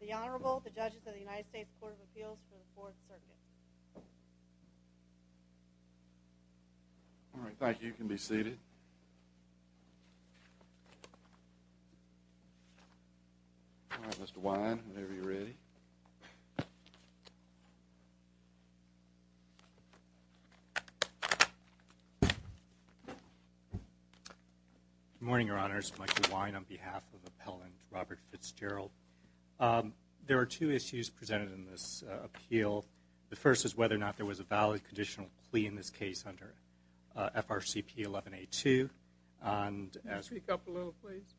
The Honorable, the Judges of the United States Court of Appeals for the Fourth Circuit. All right, thank you. You can be seated. All right, Mr. Wine, whenever you're ready. Good morning, Your Honors. Michael Wine on behalf of the appellant, Robert Fitzgerald. There are two issues presented in this appeal. The first is whether or not there was a valid conditional plea in this case under FRCP 11-A-2.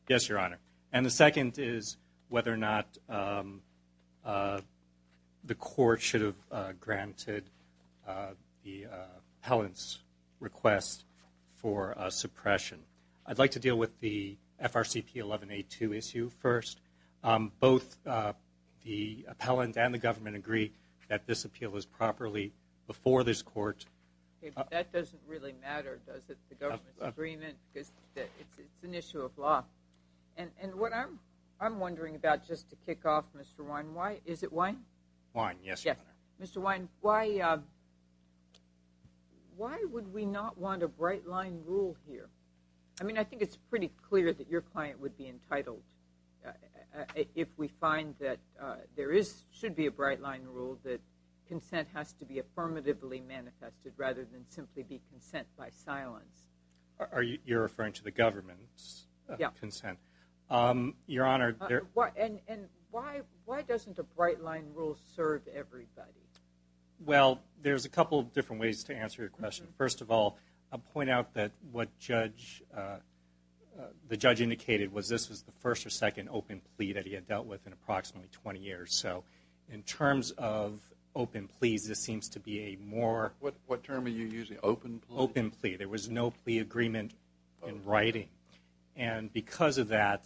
Yes, Your Honor. And the second is whether or not the court should have granted the appellant's request for suppression. I'd like to deal with the FRCP 11-A-2 issue first. Both the appellant and the government agree that this appeal was properly before this court. Okay, but that doesn't really matter, does it, the government's agreement, because it's an issue of law. And what I'm wondering about, just to kick off, Mr. Wine, is it wine? Wine, yes, Your Honor. Mr. Wine, why would we not want a bright-line rule here? I mean, I think it's pretty clear that your client would be entitled, if we find that there should be a bright-line rule, that consent has to be affirmatively manifested rather than simply be consent by silence. You're referring to the government's consent? Yes. Your Honor. And why doesn't a bright-line rule serve everybody? Well, there's a couple of different ways to answer your question. First of all, I'll point out that what the judge indicated was this was the first or second open plea that he had dealt with in approximately 20 years. So in terms of open pleas, this seems to be a more... What term are you using, open plea? Open plea. There was no plea agreement in writing. And because of that,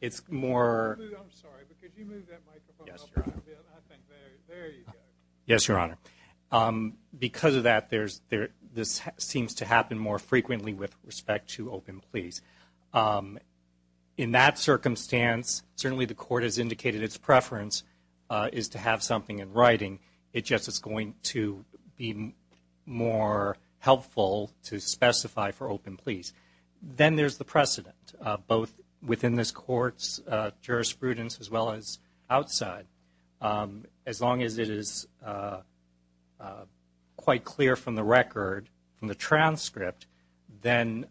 it's more... I'm sorry, but could you move that microphone up? Yes, Your Honor. I think there you go. Yes, Your Honor. Because of that, this seems to happen more frequently with respect to open pleas. In that circumstance, certainly the court has indicated its preference is to have something in writing. It just is going to be more helpful to specify for open pleas. Then there's the precedent, both within this Court's jurisprudence as well as outside. As long as it is quite clear from the record, from the transcript, then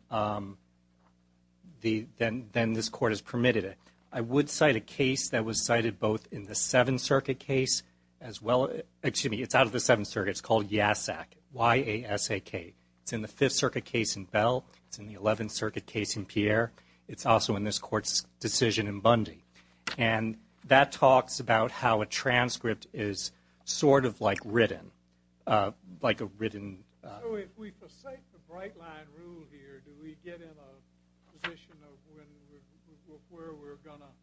this Court has permitted it. I would cite a case that was cited both in the Seventh Circuit case as well... Excuse me, it's out of the Seventh Circuit. It's called YASAK, Y-A-S-A-K. It's in the Fifth Circuit case in Bell. It's in the Eleventh Circuit case in Pierre. It's also in this Court's decision in Bundy. That talks about how a transcript is sort of like written, like a written... So if we forsake the bright-line rule here, do we get in a position of where we're going to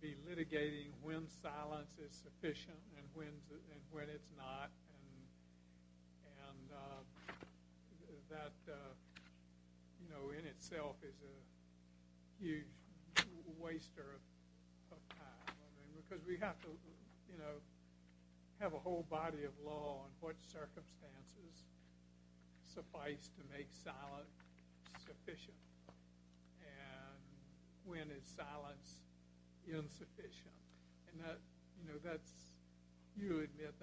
be litigating when silence is sufficient and when it's not? And that, you know, in itself is a huge waster of time. Because we have to, you know, have a whole body of law on what circumstances suffice to make silence sufficient. And when is silence insufficient? And that, you know, that's... you admit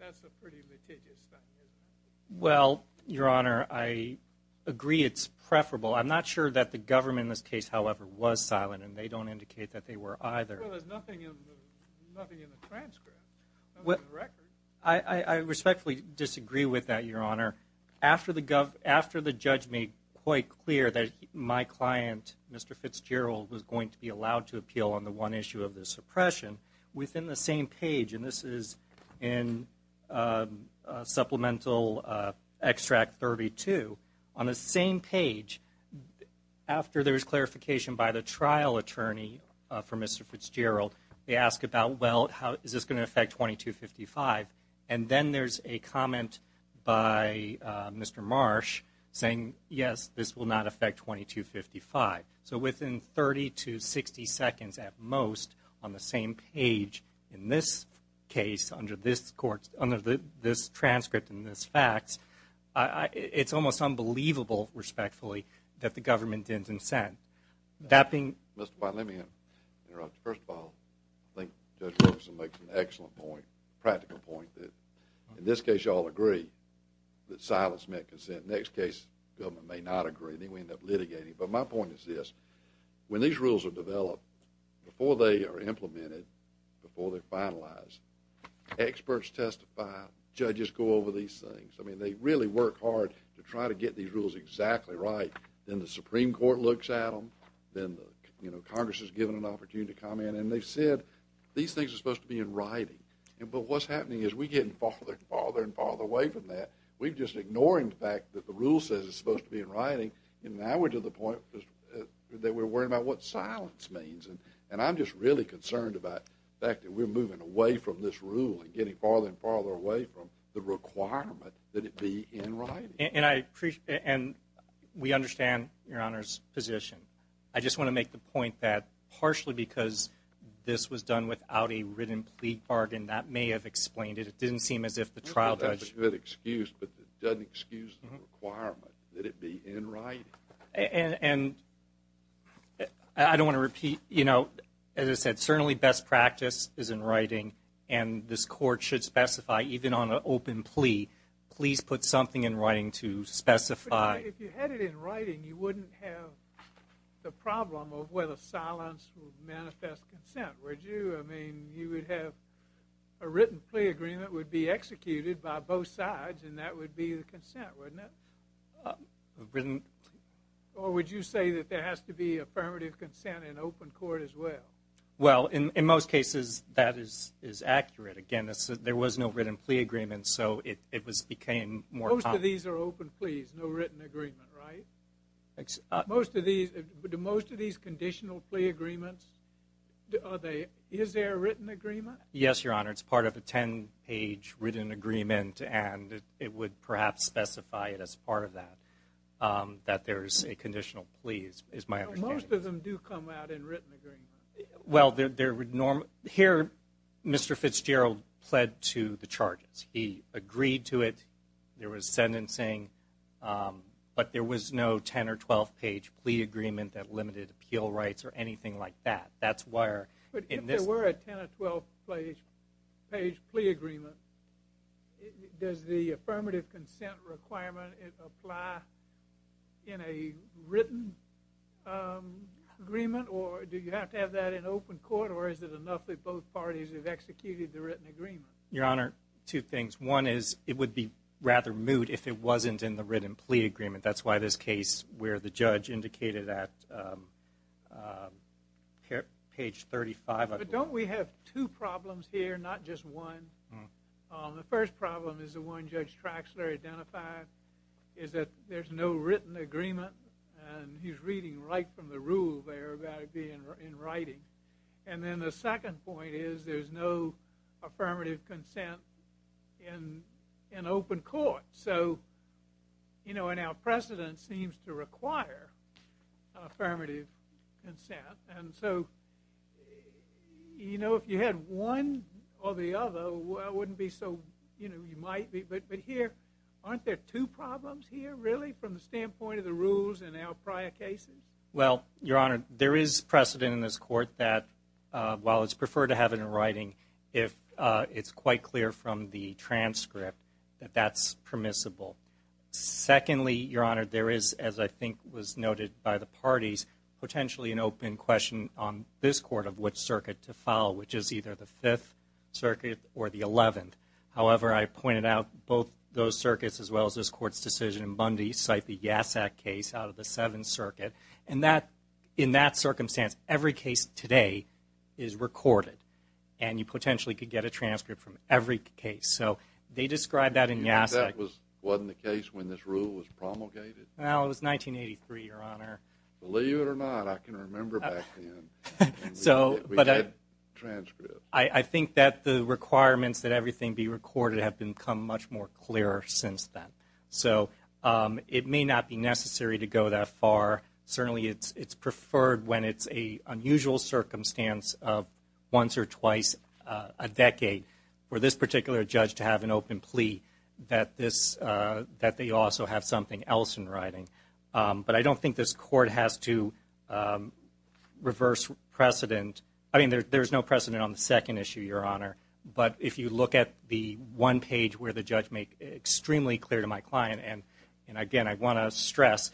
that's a pretty litigious thing, isn't it? Well, Your Honor, I agree it's preferable. I'm not sure that the government in this case, however, was silent, and they don't indicate that they were either. Well, there's nothing in the transcript, nothing in the record. I respectfully disagree with that, Your Honor. After the judge made quite clear that my client, Mr. Fitzgerald, was going to be allowed to appeal on the one issue of the suppression, within the same page... And this is in Supplemental Extract 32. On the same page, after there's clarification by the trial attorney for Mr. Fitzgerald, they ask about, well, is this going to affect 2255? And then, there's a comment by Mr. Marsh, saying, yes, this will not affect 2255. So, within 30 to 60 seconds, at most, on the same page, in this case, under this court... under this transcript and this fact, it's almost unbelievable, respectfully, that the government didn't consent. Mr. Fine, let me interrupt you. First of all, I think Judge Ferguson makes an excellent point, practical point. In this case, you all agree that silence meant consent. Next case, the government may not agree. Then, we end up litigating. But, my point is this. When these rules are developed, before they are implemented, before they're finalized, experts testify. Judges go over these things. I mean, they really work hard to try to get these rules exactly right. Then, the Supreme Court looks at them. Then, you know, Congress is given an opportunity to comment. And, they said, these things are supposed to be in writing. But, what's happening is we're getting farther and farther and farther away from that. We're just ignoring the fact that the rule says it's supposed to be in writing. And, now, we're to the point that we're worried about what silence means. And, I'm just really concerned about the fact that we're moving away from this rule and getting farther and farther away from the requirement that it be in writing. And, we understand Your Honor's position. I just want to make the point that, partially because this was done without a written plea bargain, that may have explained it. It didn't seem as if the trial judge... That's a good excuse, but it doesn't excuse the requirement that it be in writing. And, I don't want to repeat, you know, as I said, certainly best practice is in writing. And, this court should specify, even on an open plea, please put something in writing to specify... If you had it in writing, you wouldn't have the problem of whether silence would manifest consent, would you? I mean, you would have a written plea agreement would be executed by both sides and that would be the consent, wouldn't it? A written... Or, would you say that there has to be affirmative consent in open court as well? Well, in most cases, that is accurate. Again, there was no written plea agreement, so it became more... Most of these are open pleas, no written agreement, right? Do most of these conditional plea agreements, is there a written agreement? Yes, Your Honor. It's part of a 10-page written agreement and it would perhaps specify it as part of that, that there is a conditional plea, is my understanding. Most of them do come out in written agreements. Well, there would normally... Here, Mr. Fitzgerald pled to the charges. He agreed to it. There was sentencing, but there was no 10- or 12-page plea agreement that limited appeal rights or anything like that. That's why... If there were a 10- or 12-page plea agreement, does the affirmative consent requirement apply in a written agreement or do you have to have that in open court or is it enough that both parties have executed the written agreement? Your Honor, two things. One is it would be rather moot if it wasn't in the written plea agreement. That's why this case where the judge indicated at page 35... But don't we have two problems here, not just one? The first problem is the one Judge Traxler identified, is that there's no written agreement. He's reading right from the rule there about it being in writing. And then the second point is there's no affirmative consent in open court. So, you know, and our precedent seems to require affirmative consent. And so, you know, if you had one or the other, it wouldn't be so... But here, aren't there two problems here, really, from the standpoint of the rules in our prior cases? Well, Your Honor, there is precedent in this court that while it's preferred to have it in writing, it's quite clear from the transcript that that's permissible. Secondly, Your Honor, there is, as I think was noted by the parties, potentially an open question on this court of which circuit to follow, which is either the Fifth Circuit or the Eleventh. However, I pointed out both those circuits, as well as this court's decision in Bundy, cite the Yasak case out of the Seventh Circuit. And in that circumstance, every case today is recorded. And you potentially could get a transcript from every case. So they describe that in Yasak... You mean that wasn't the case when this rule was promulgated? Well, it was 1983, Your Honor. Believe it or not, I can remember back then. So... We had transcripts. I think that the requirements that everything be recorded have become much more clear since then. So, it may not be necessary to go that far. Certainly, it's preferred when it's an unusual circumstance of once or twice a decade for this particular judge to have an open plea, that they also have something else in writing. But I don't think this court has to reverse precedent. I mean, there's no precedent on the second issue, Your Honor. But if you look at the one page where the judge made extremely clear to my client, and again, I want to stress,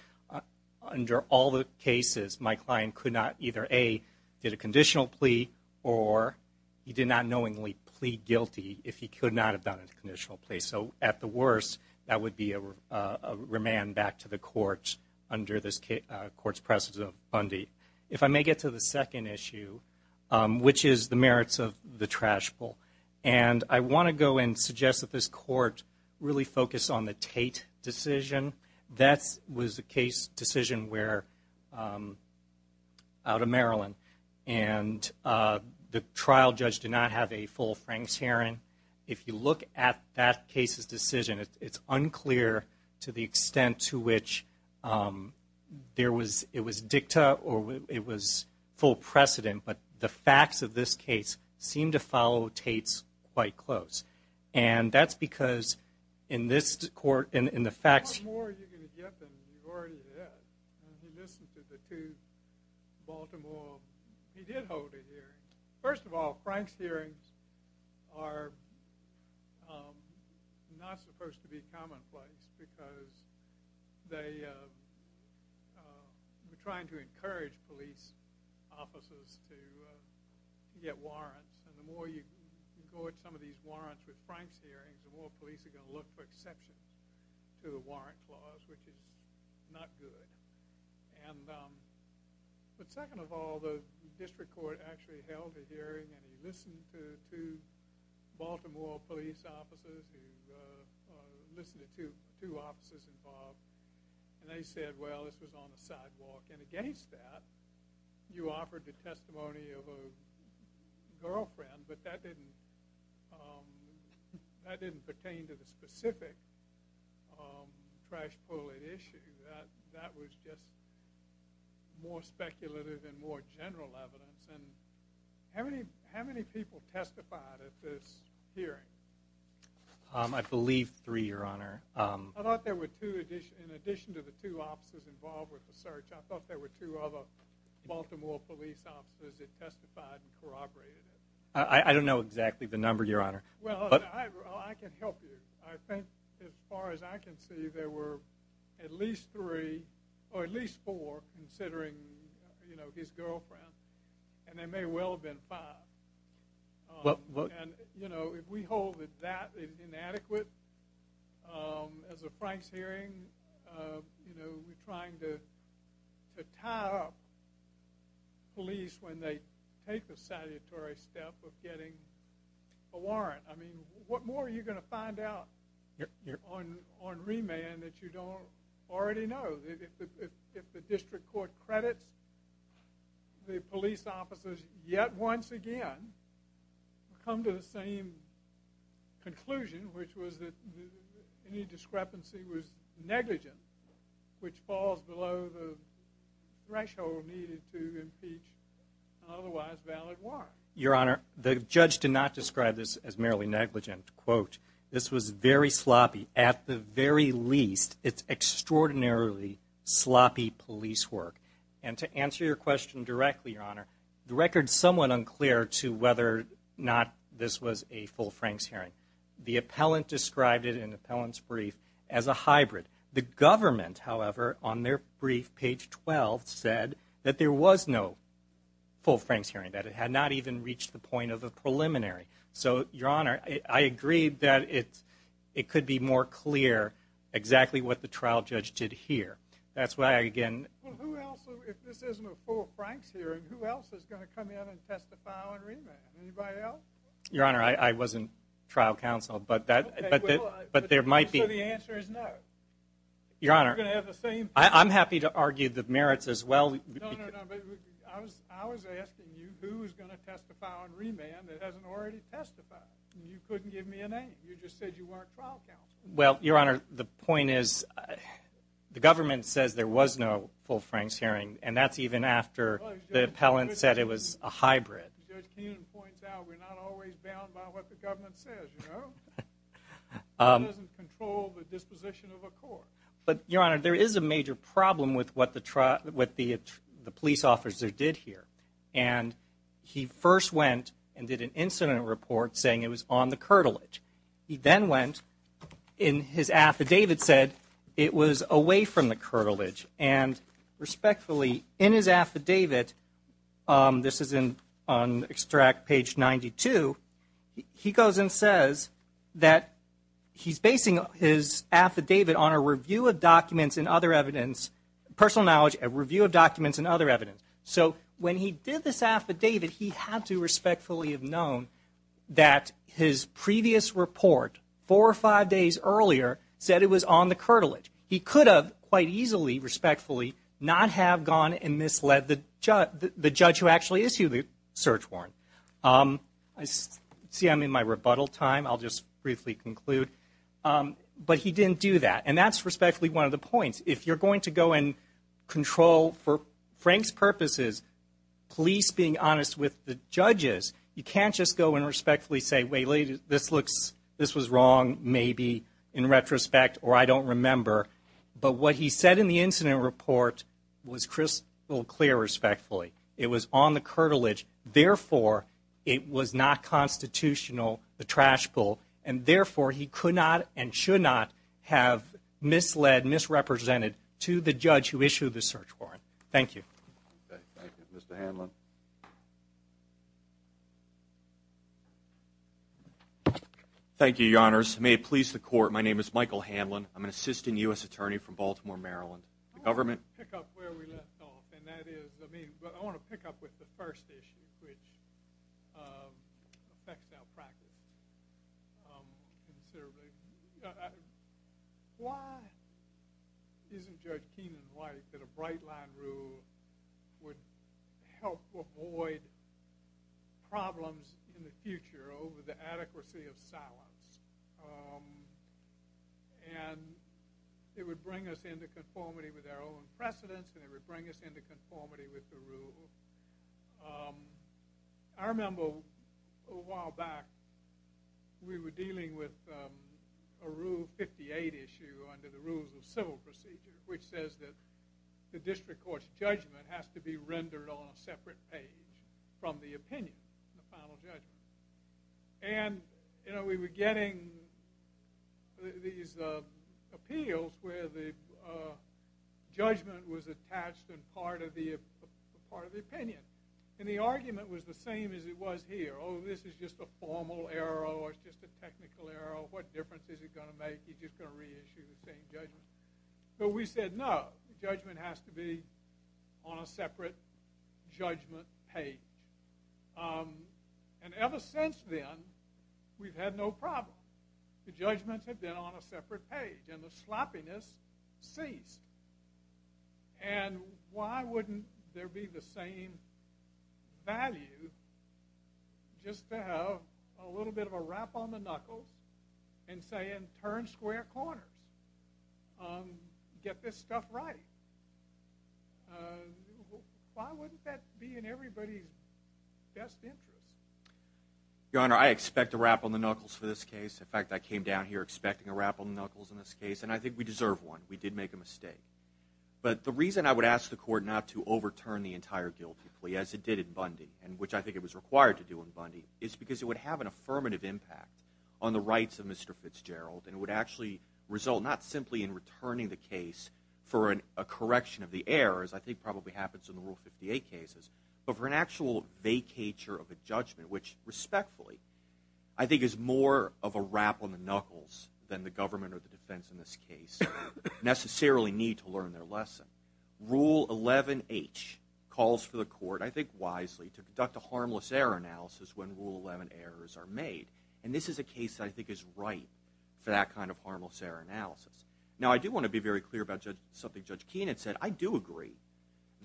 under all the cases, my client could not either, A, get a conditional plea, or he did not knowingly plead guilty if he could not have done a conditional plea. So, at the worst, that would be a remand back to the court under this court's precedent of Bundy. If I may get to the second issue, which is the merits of the trash bowl, and I want to go and suggest that this court really focus on the Tate decision. That was a case decision where, out of Maryland, and the trial judge did not have a full Franks hearing. If you look at that case's decision, it's unclear to the extent to which it was dicta or it was full precedent, but the facts of this case seem to follow Tate's quite close. And that's because in this court, in the facts— How more are you going to get than you already have? He listened to the two Baltimore—he did hold a hearing. First of all, Franks hearings are not supposed to be commonplace because they were trying to encourage police officers to get warrants, and the more you go at some of these warrants with Franks hearings, the more police are going to look for exceptions to the warrant clause, which is not good. But second of all, the district court actually held a hearing, and he listened to two Baltimore police officers who—listened to two officers involved, and they said, well, this was on the sidewalk. And against that, you offered the testimony of a girlfriend, but that didn't pertain to the specific trash bullet issue. That was just more speculative and more general evidence. And how many people testified at this hearing? I believe three, Your Honor. I thought there were two—in addition to the two officers involved with the search, I thought there were two other Baltimore police officers that testified and corroborated it. I don't know exactly the number, Your Honor. Well, I can help you. I think as far as I can see, there were at least three or at least four, considering, you know, his girlfriend, and there may well have been five. And, you know, if we hold it that inadequate as a Franks hearing, you know, we're trying to tie up police when they take the salutary step of getting a warrant. I mean, what more are you going to find out on remand that you don't already know? If the district court credits the police officers yet once again, come to the same conclusion, which was that any discrepancy was negligent, which falls below the threshold needed to impeach an otherwise valid warrant. Your Honor, the judge did not describe this as merely negligent. Quote, this was very sloppy. At the very least, it's extraordinarily sloppy police work. And to answer your question directly, Your Honor, the record's somewhat unclear to whether or not this was a full Franks hearing. The appellant described it in the appellant's brief as a hybrid. The government, however, on their brief, page 12, said that there was no full Franks hearing, that it had not even reached the point of a preliminary. So, Your Honor, I agree that it could be more clear exactly what the trial judge did here. That's why, again— Well, who else, if this isn't a full Franks hearing, who else is going to come in and testify on remand? Anybody else? Your Honor, I wasn't trial counsel, but there might be— So the answer is no? Your Honor, I'm happy to argue the merits as well. I was asking you who was going to testify on remand that hasn't already testified, and you couldn't give me a name. You just said you weren't trial counsel. Well, Your Honor, the point is the government says there was no full Franks hearing, and that's even after the appellant said it was a hybrid. Judge Keenan points out we're not always bound by what the government says, you know? It doesn't control the disposition of a court. But, Your Honor, there is a major problem with what the police officer did here, and he first went and did an incident report saying it was on the curtilage. He then went and his affidavit said it was away from the curtilage, and respectfully, in his affidavit—this is on extract page 92— he goes and says that he's basing his affidavit on a review of documents and other evidence, personal knowledge, a review of documents and other evidence. So when he did this affidavit, he had to respectfully have known that his previous report, four or five days earlier, said it was on the curtilage. He could have quite easily, respectfully, not have gone and misled the judge who actually issued the search warrant. See, I'm in my rebuttal time. I'll just briefly conclude. But he didn't do that, and that's respectfully one of the points. If you're going to go and control, for Frank's purposes, police being honest with the judges, you can't just go and respectfully say, wait a minute, this was wrong, maybe, in retrospect, or I don't remember. But what he said in the incident report was crystal clear, respectfully. It was on the curtilage. Therefore, it was not constitutional, the trash pull, and therefore he could not and should not have misled, misrepresented, to the judge who issued the search warrant. Thank you. Okay, thank you. Mr. Hanlon. Thank you, Your Honors. May it please the Court, my name is Michael Hanlon. I'm an assistant U.S. attorney from Baltimore, Maryland. I want to pick up where we left off, and that is, I mean, but I want to pick up with the first issue, which affects our practice considerably. Why isn't Judge Keenan right that a bright-line rule would help avoid problems in the future over the adequacy of silence? And it would bring us into conformity with our own precedents, and it would bring us into conformity with the rule. I remember a while back, we were dealing with a Rule 58 issue under the Rules of Civil Procedure, which says that the district court's judgment has to be rendered on a separate page from the opinion, the final judgment. And, you know, we were getting these appeals where the judgment was attached in part of the opinion, and the argument was the same as it was here. Oh, this is just a formal error, or it's just a technical error. What difference is it going to make? You're just going to reissue the same judgment. So we said, no, judgment has to be on a separate judgment page. And ever since then, we've had no problem. The judgments have been on a separate page, and the sloppiness ceased. And why wouldn't there be the same value just to have a little bit of a rap on the knuckles and say, and turn square corners, get this stuff right? Why wouldn't that be in everybody's best interest? Your Honor, I expect a rap on the knuckles for this case. In fact, I came down here expecting a rap on the knuckles in this case, and I think we deserve one. We did make a mistake. But the reason I would ask the court not to overturn the entire guilty plea, as it did in Bundy, and which I think it was required to do in Bundy, is because it would have an affirmative impact on the rights of Mr. Fitzgerald, and it would actually result not simply in returning the case for a correction of the errors, I think probably happens in the Rule 58 cases, but for an actual vacatur of a judgment, which respectfully I think is more of a rap on the knuckles than the government or the defense in this case necessarily need to learn their lesson. Rule 11H calls for the court, I think wisely, to conduct a harmless error analysis when Rule 11 errors are made. And this is a case that I think is right for that kind of harmless error analysis. Now, I do want to be very clear about something Judge Keenan said. I do agree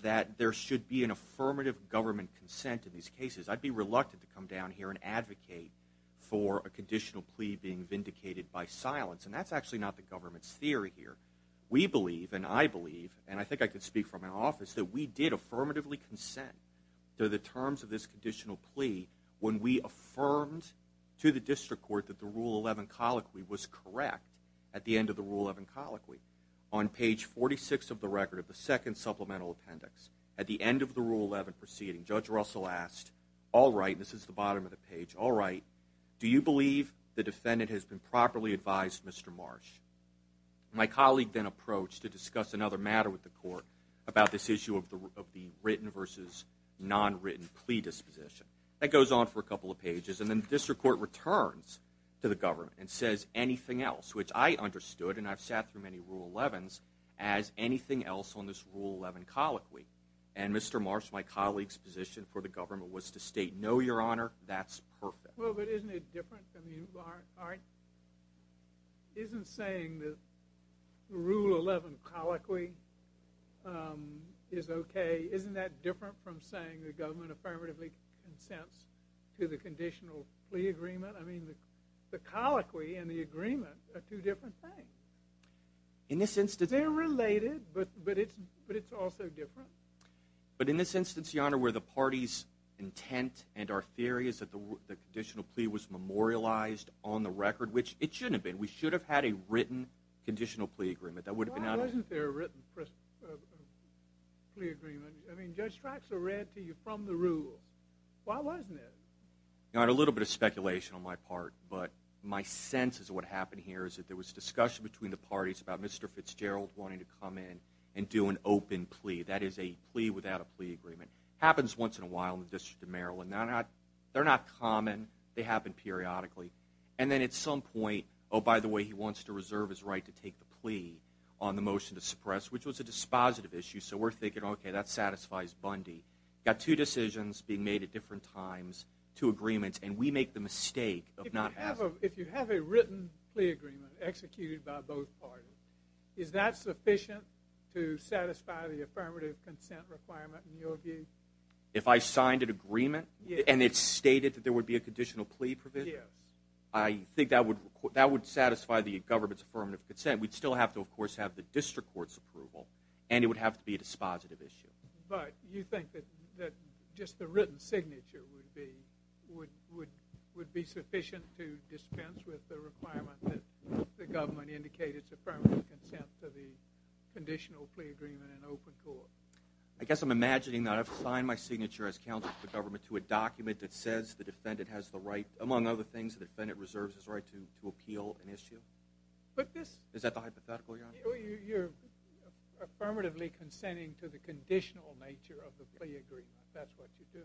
that there should be an affirmative government consent in these cases. I'd be reluctant to come down here and advocate for a conditional plea being vindicated by silence, and that's actually not the government's theory here. We believe, and I believe, and I think I can speak for my office, that we did affirmatively consent to the terms of this conditional plea when we affirmed to the district court that the Rule 11 colloquy was correct at the end of the Rule 11 colloquy. On page 46 of the record of the second supplemental appendix, at the end of the Rule 11 proceeding, Judge Russell asked, all right, this is the bottom of the page, all right, do you believe the defendant has been properly advised, Mr. Marsh? My colleague then approached to discuss another matter with the court about this issue of the written versus nonwritten plea disposition. That goes on for a couple of pages, and then the district court returns to the government and says anything else, which I understood, and I've sat through many Rule 11s, as anything else on this Rule 11 colloquy. And, Mr. Marsh, my colleague's position for the government was to state, no, Your Honor, that's perfect. Well, but isn't it different? Isn't saying the Rule 11 colloquy is okay, isn't that different from saying the government affirmatively consents to the conditional plea agreement? I mean, the colloquy and the agreement are two different things. They're related, but it's also different. But in this instance, Your Honor, where the party's intent and our theory is that the conditional plea was memorialized on the record, which it shouldn't have been. We should have had a written conditional plea agreement. Why wasn't there a written plea agreement? I mean, Judge Stratzer read to you from the rules. Why wasn't there? You know, I had a little bit of speculation on my part, but my sense is what happened here is that there was discussion between the parties about Mr. Fitzgerald wanting to come in and do an open plea. That is a plea without a plea agreement. It happens once in a while in the District of Maryland. They're not common. They happen periodically. And then at some point, oh, by the way, he wants to reserve his right to take the plea on the motion to suppress, which was a dispositive issue. So we're thinking, okay, that satisfies Bundy. Got two decisions being made at different times, two agreements, and we make the mistake of not having it. If you have a written plea agreement executed by both parties, is that sufficient to satisfy the affirmative consent requirement in your view? If I signed an agreement and it stated that there would be a conditional plea provision? Yes. I think that would satisfy the government's affirmative consent. We'd still have to, of course, have the district court's approval, and it would have to be a dispositive issue. But you think that just the written signature would be sufficient to dispense with the requirement that the government indicate its affirmative consent to the conditional plea agreement in open court? I guess I'm imagining that I've signed my signature as counsel to the government to a document that says the defendant has the right, among other things, the defendant reserves his right to appeal an issue. Is that the hypothetical you're on? You're affirmatively consenting to the conditional nature of the plea agreement. That's what you're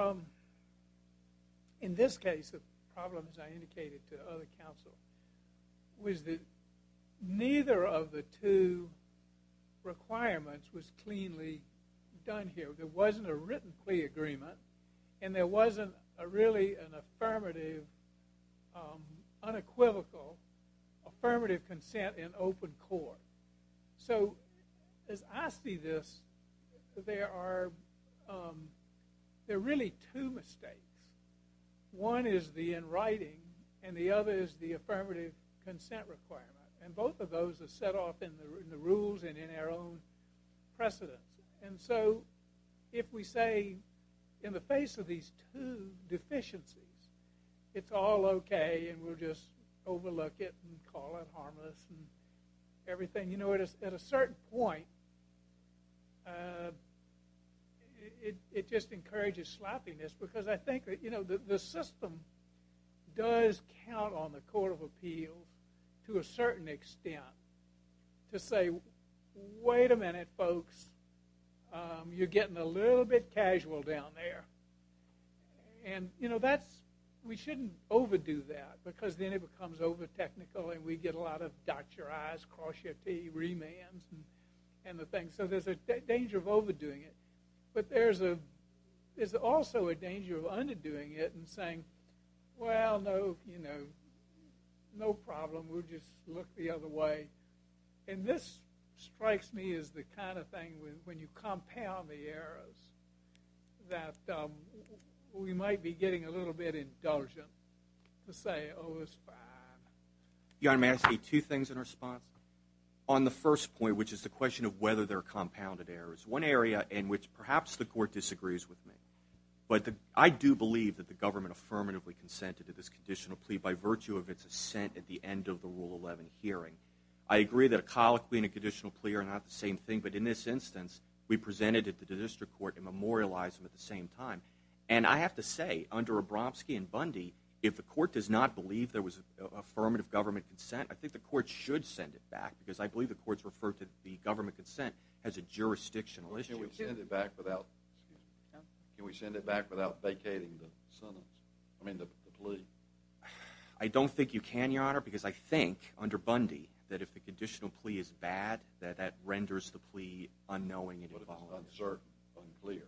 doing. But in this case, the problem, as I indicated to other counsel, was that neither of the two requirements was cleanly done here. There wasn't a written plea agreement, and there wasn't really an affirmative, unequivocal affirmative consent in open court. So as I see this, there are really two mistakes. One is the in writing, and the other is the affirmative consent requirement, and both of those are set off in the rules and in our own precedence. And so if we say in the face of these two deficiencies, it's all okay and we'll just overlook it and call it harmless and everything. You know, at a certain point, it just encourages sloppiness because I think the system does count on the Court of Appeals to a certain extent to say, wait a minute, folks. You're getting a little bit casual down there. We shouldn't overdo that because then it becomes over-technical and we get a lot of dot your I's, cross your T's, remands, and the thing. So there's a danger of overdoing it. But there's also a danger of underdoing it and saying, well, no, you know, no problem. We'll just look the other way. And this strikes me as the kind of thing when you compound the errors that we might be getting a little bit indulgent to say, oh, it's fine. Your Honor, may I say two things in response? On the first point, which is the question of whether they're compounded errors, one area in which perhaps the Court disagrees with me. But I do believe that the government affirmatively consented to this conditional plea by virtue of its assent at the end of the Rule 11 hearing. I agree that a colloquy and a conditional plea are not the same thing. But in this instance, we presented it to the district court and memorialized them at the same time. And I have to say, under Abramski and Bundy, if the court does not believe there was affirmative government consent, I think the court should send it back because I believe the courts refer to the government consent as a jurisdictional issue. Well, can't we send it back without vacating the plea? I don't think you can, Your Honor, because I think, under Bundy, that if the conditional plea is bad, that that renders the plea unknowing. But it's uncertain, unclear.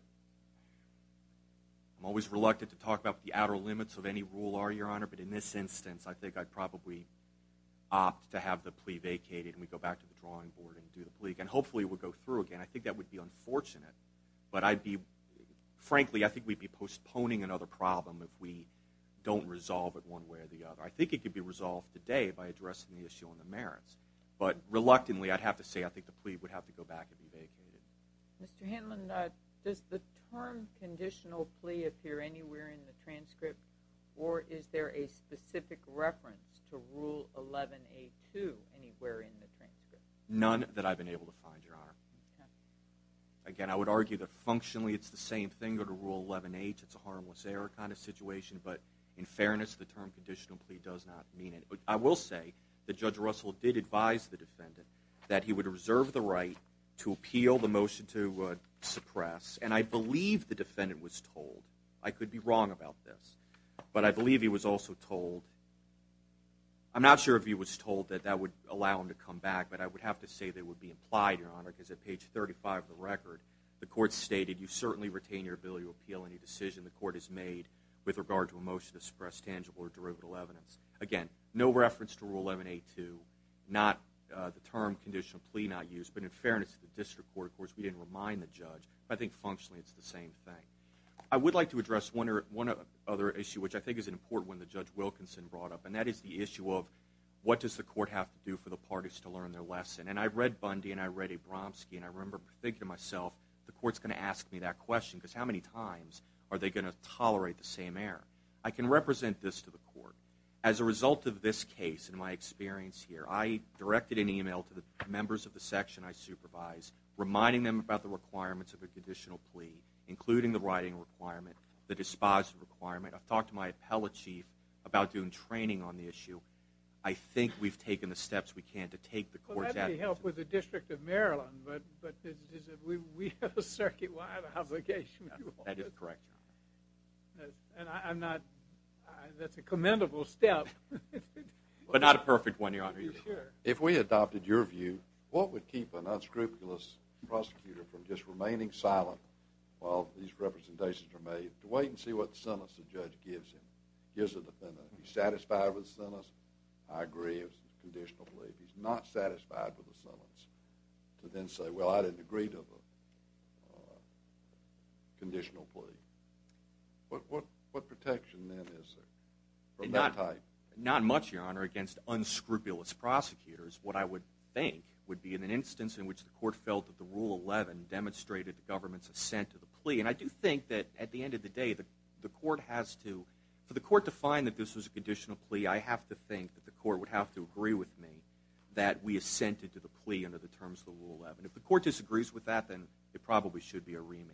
I'm always reluctant to talk about the outer limits of any rule, Your Honor, but in this instance, I think I'd probably opt to have the plea vacated and we'd go back to the drawing board and do the plea. And hopefully it would go through again. I think that would be unfortunate. But frankly, I think we'd be postponing another problem if we don't resolve it one way or the other. I think it could be resolved today by addressing the issue on the merits. But reluctantly, I'd have to say I think the plea would have to go back and be vacated. Mr. Hanlon, does the term conditional plea appear anywhere in the transcript, None that I've been able to find, Your Honor. Again, I would argue that functionally it's the same thing under Rule 11H. It's a harmless error kind of situation. But in fairness, the term conditional plea does not mean it. I will say that Judge Russell did advise the defendant that he would reserve the right to appeal the motion to suppress. And I believe the defendant was told. I could be wrong about this. But I believe he was also told. I'm not sure if he was told that that would allow him to come back. But I would have to say that it would be implied, Your Honor, because at page 35 of the record, the court stated, You certainly retain your ability to appeal any decision the court has made with regard to a motion to suppress tangible or derivative evidence. Again, no reference to Rule 11A2. Not the term conditional plea not used. But in fairness to the district court, of course, we didn't remind the judge. But I think functionally it's the same thing. I would like to address one other issue, which I think is an important one that Judge Wilkinson brought up, and that is the issue of what does the court have to do for the parties to learn their lesson. And I read Bundy and I read Abramski, and I remember thinking to myself, the court's going to ask me that question because how many times are they going to tolerate the same error? I can represent this to the court. As a result of this case and my experience here, I directed an email to the members of the section I supervise, reminding them about the requirements of a conditional plea, including the writing requirement, the disposition requirement. I've talked to my appellate chief about doing training on the issue. I think we've taken the steps we can to take the court's advice. Well, that would help with the District of Maryland, but we have a circuit-wide obligation. That is correct, Your Honor. And that's a commendable step. But not a perfect one, Your Honor. If we adopted your view, what would keep an unscrupulous prosecutor from just remaining silent while these representations are made is to wait and see what sentence the judge gives him, gives the defendant. If he's satisfied with the sentence, I agree it's a conditional plea. If he's not satisfied with the sentence, to then say, well, I didn't agree to the conditional plea. What protection then is there from that type? Not much, Your Honor, against unscrupulous prosecutors. What I would think would be in an instance in which the court felt that the Rule 11 demonstrated the government's assent to the plea. And I do think that at the end of the day, the court has to, for the court to find that this was a conditional plea, I have to think that the court would have to agree with me that we assented to the plea under the terms of the Rule 11. If the court disagrees with that, then it probably should be a remand.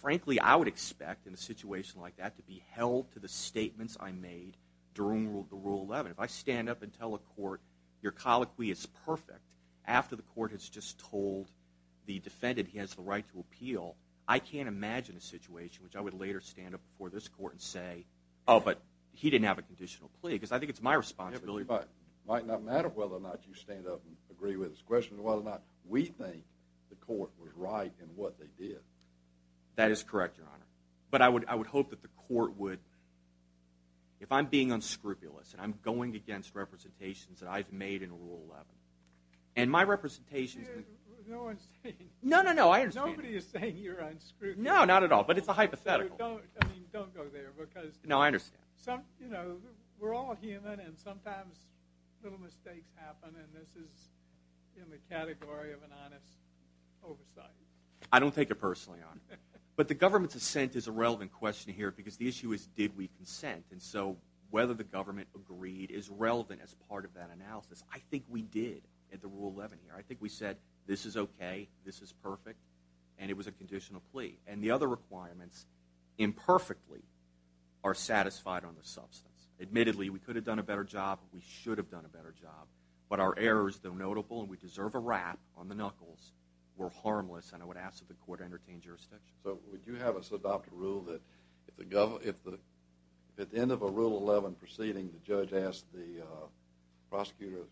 Frankly, I would expect in a situation like that to be held to the statements I made during the Rule 11. If I stand up and tell a court, your colloquy is perfect, after the court has just told the defendant he has the right to appeal, I can't imagine a situation in which I would later stand up before this court and say, oh, but he didn't have a conditional plea, because I think it's my responsibility. It might not matter whether or not you stand up and agree with his question or whether or not we think the court was right in what they did. That is correct, Your Honor. But I would hope that the court would... If I'm being unscrupulous and I'm going against representations that I've made in Rule 11, and my representations... No, no, no, I understand. No, not at all, but it's a hypothetical. No, I understand. I don't take it personally, Your Honor. But the government's assent is a relevant question here because the issue is did we consent. And so whether the government agreed is relevant as part of that analysis. I think we did at the Rule 11 hearing. I think we said this is okay, this is perfect, and it was a conditional plea. And the other requirements, imperfectly, are satisfied on the substance. Admittedly, we could have done a better job. We should have done a better job. But our errors, though notable, and we deserve a rap on the knuckles, were harmless, and I would ask that the court entertain jurisdiction. So would you have us adopt a rule that if at the end of a Rule 11 proceeding the judge asks the prosecutor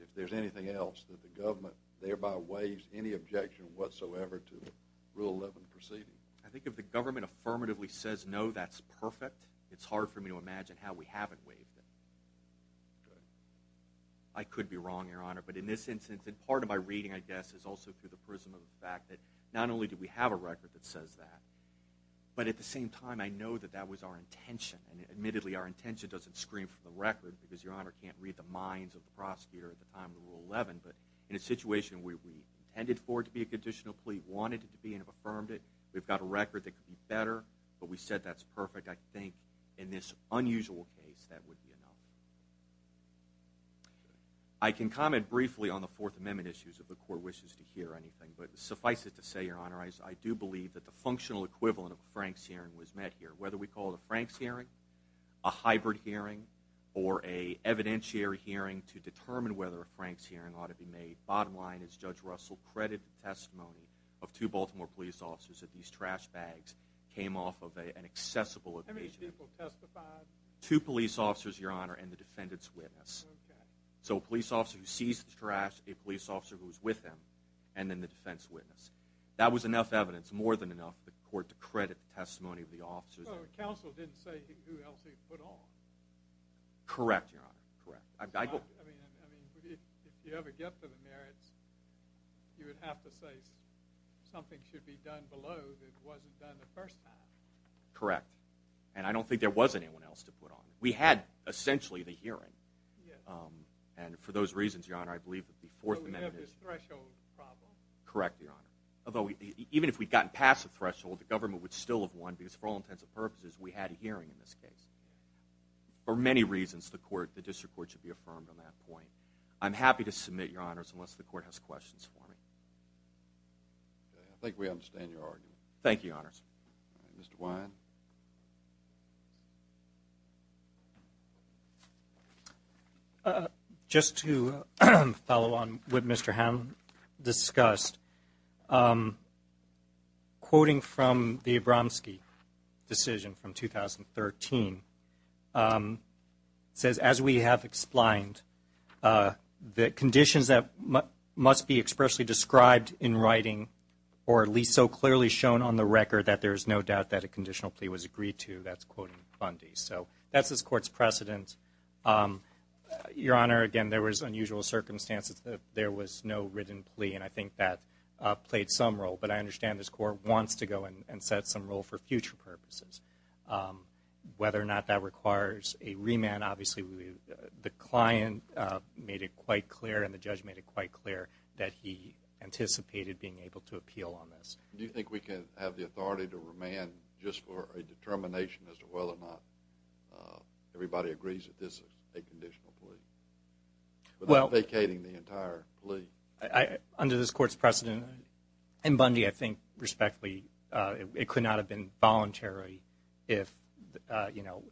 if there's anything else, that the government thereby waives any objection whatsoever to a Rule 11 proceeding? I think if the government affirmatively says no, that's perfect. It's hard for me to imagine how we haven't waived it. Okay. I could be wrong, Your Honor, but in this instance, and part of my reading, I guess, is also through the prism of the fact that not only do we have a record that says that, but at the same time I know that that was our intention. And admittedly, our intention doesn't scream from the record because Your Honor can't read the minds of the prosecutor at the time of the Rule 11, but in a situation where we intended for it to be a conditional plea, wanted it to be, and have affirmed it, we've got a record that could be better, but we said that's perfect. I think in this unusual case that would be enough. I can comment briefly on the Fourth Amendment issues if the court wishes to hear anything, but suffice it to say, Your Honor, I do believe that the functional equivalent of a Frank's hearing was met here. Whether we call it a Frank's hearing, a hybrid hearing, or a evidentiary hearing to determine whether a Frank's hearing ought to be made, bottom line is Judge Russell credited the testimony of two Baltimore police officers that these trash bags came off of an accessible occasion. How many people testified? Two police officers, Your Honor, and the defendant's witness. Okay. So a police officer who seized the trash, a police officer who was with him, and then the defense witness. That was enough evidence, more than enough, for the court to credit the testimony of the officers. Well, the counsel didn't say who else he put on. Correct, Your Honor, correct. I mean, if you ever get to the merits, you would have to say something should be done below that wasn't done the first time. Correct. And I don't think there was anyone else to put on. We had, essentially, the hearing. Yes. And for those reasons, Your Honor, I believe that the Fourth Amendment is. But we have this threshold problem. Correct, Your Honor. Although, even if we'd gotten past the threshold, the government would still have won because, for all intents and purposes, we had a hearing in this case. For many reasons, the district court should be affirmed on that point. I'm happy to submit, Your Honors, unless the court has questions for me. Okay. I think we understand your argument. Thank you, Your Honors. All right. Mr. Wyan. Thank you. Just to follow on what Mr. Hamm discussed, quoting from the Abramski decision from 2013 says, as we have explained, the conditions that must be expressly described in writing or at least so clearly shown on the record that there is no doubt that a conditional plea was agreed to. That's quoting Fundy. So that's this Court's precedent. Your Honor, again, there was unusual circumstances. There was no written plea. And I think that played some role. But I understand this Court wants to go and set some role for future purposes. Whether or not that requires a remand, obviously the client made it quite clear and the judge made it quite clear that he anticipated being able to appeal on this. Do you think we can have the authority to remand just for a determination as to whether or not everybody agrees that this is a conditional plea? Without vacating the entire plea. Under this Court's precedent, and, Bundy, I think respectfully, it could not have been voluntary if, you know.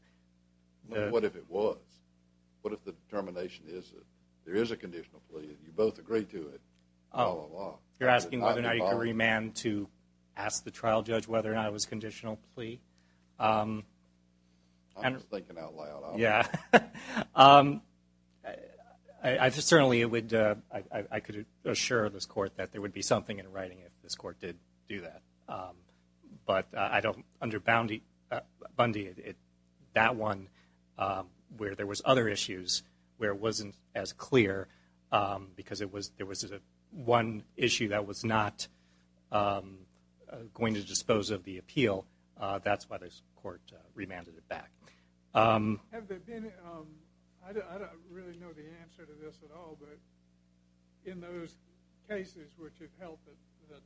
What if it was? What if the determination is that there is a conditional plea and you both agree to it all along? You're asking whether or not you can remand to ask the trial judge whether or not it was a conditional plea? I'm just thinking out loud. Yeah. I just certainly would, I could assure this Court that there would be something in writing if this Court did do that. But I don't, under Bundy, that one where there was other issues where it wasn't as clear because there was one issue that was not going to dispose of the appeal, that's why this Court remanded it back. Have there been, I don't really know the answer to this at all, but in those cases which have held that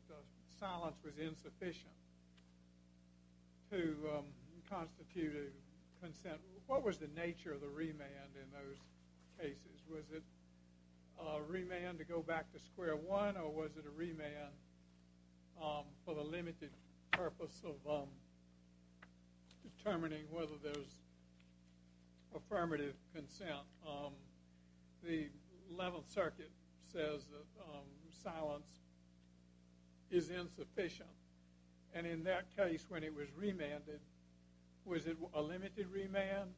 silence was insufficient to constitute a consent, what was the nature of the remand in those cases? Was it a remand to go back to square one or was it a remand for the limited purpose of determining whether there was affirmative consent? The Eleventh Circuit says that silence is insufficient, and in that case when it was remanded, was it a limited remand?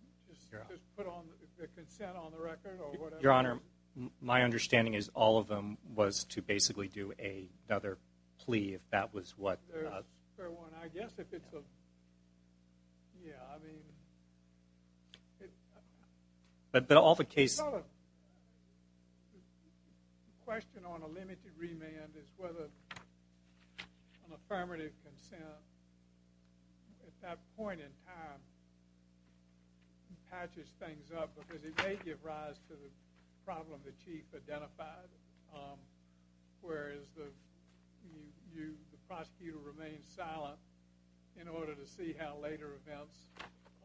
Just put a consent on the record or whatever? Your Honor, my understanding is all of them was to basically do another plea if that was what was. I guess if it's a, yeah, I mean. But all the cases. The question on a limited remand is whether an affirmative consent at that point in time patches things up because it may give rise to the problem the Chief identified, whereas the prosecutor remains silent in order to see how later events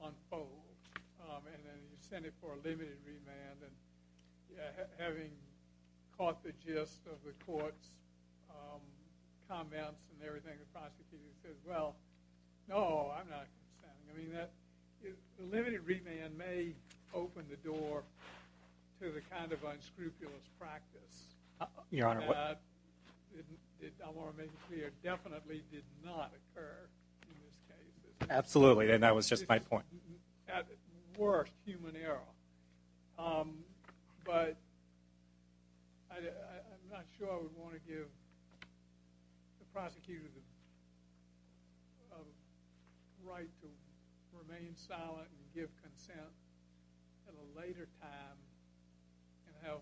unfold. And then you sent it for a limited remand, and having caught the gist of the court's comments and everything, the prosecutor says, well, no, I'm not consenting. I mean, the limited remand may open the door to the kind of unscrupulous practice. Your Honor, what? I want to make it clear, definitely did not occur in this case. Absolutely, and that was just my point. At worst, human error. But I'm not sure I would want to give the prosecutor the right to remain silent and give consent at a later time and have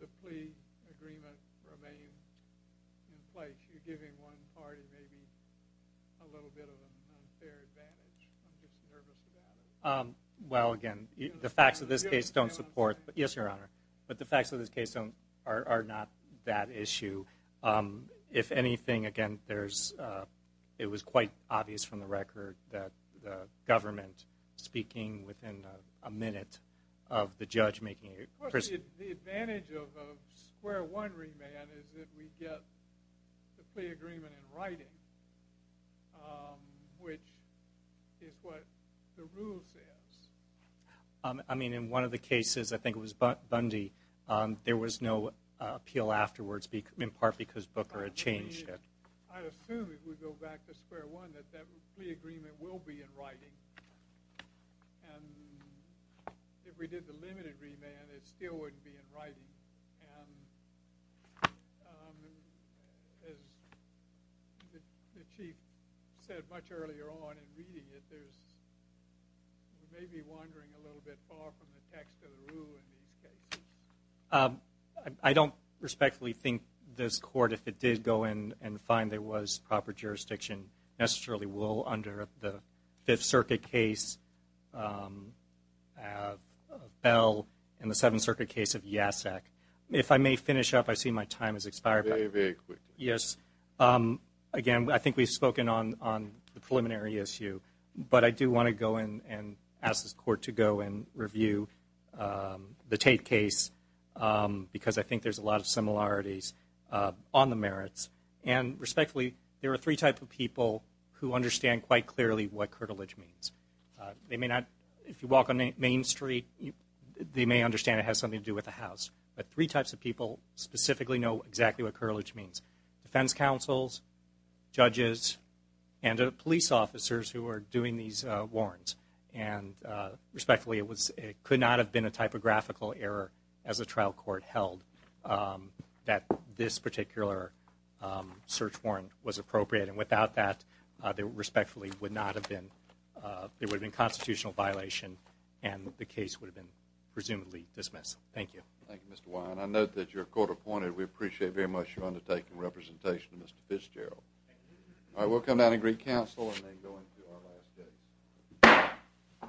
the plea agreement remain in place. You're giving one party maybe a little bit of an unfair advantage. I'm just nervous about it. Well, again, the facts of this case don't support. Yes, Your Honor. But the facts of this case are not that issue. If anything, again, it was quite obvious from the record that the government speaking within a minute of the judge making it. Of course, the advantage of a square one remand is that we get the plea agreement in writing, which is what the rule says. I mean, in one of the cases, I think it was Bundy, there was no appeal afterwards, in part because Booker had changed it. I assume, if we go back to square one, that that plea agreement will be in writing. And if we did the limited remand, it still wouldn't be in writing. And as the Chief said much earlier on in reading it, there's maybe wandering a little bit far from the text of the rule in these cases. I don't respectfully think this Court, if it did go in and find there was proper jurisdiction, necessarily will under the Fifth Circuit case of Bell and the Seventh Circuit case of Yasak. If I may finish up, I see my time has expired. Very, very quickly. Yes. Again, I think we've spoken on the preliminary issue, but I do want to go in and ask this Court to go and review the Tate case because I think there's a lot of similarities on the merits. And respectfully, there are three types of people who understand quite clearly what curtilage means. If you walk on Main Street, they may understand it has something to do with a house. But three types of people specifically know exactly what curtilage means. Defense counsels, judges, and police officers who are doing these warrants. And respectfully, it could not have been a typographical error as a trial court held that this particular search warrant was appropriate. And without that, there respectfully would not have been constitutional violation and the case would have been presumably dismissed. Thank you. Thank you, Mr. Weyand. I note that you're court-appointed. We appreciate very much your undertaking and representation of Mr. Fitzgerald. Thank you. All right, we'll come down and greet counsel and then go into our last case.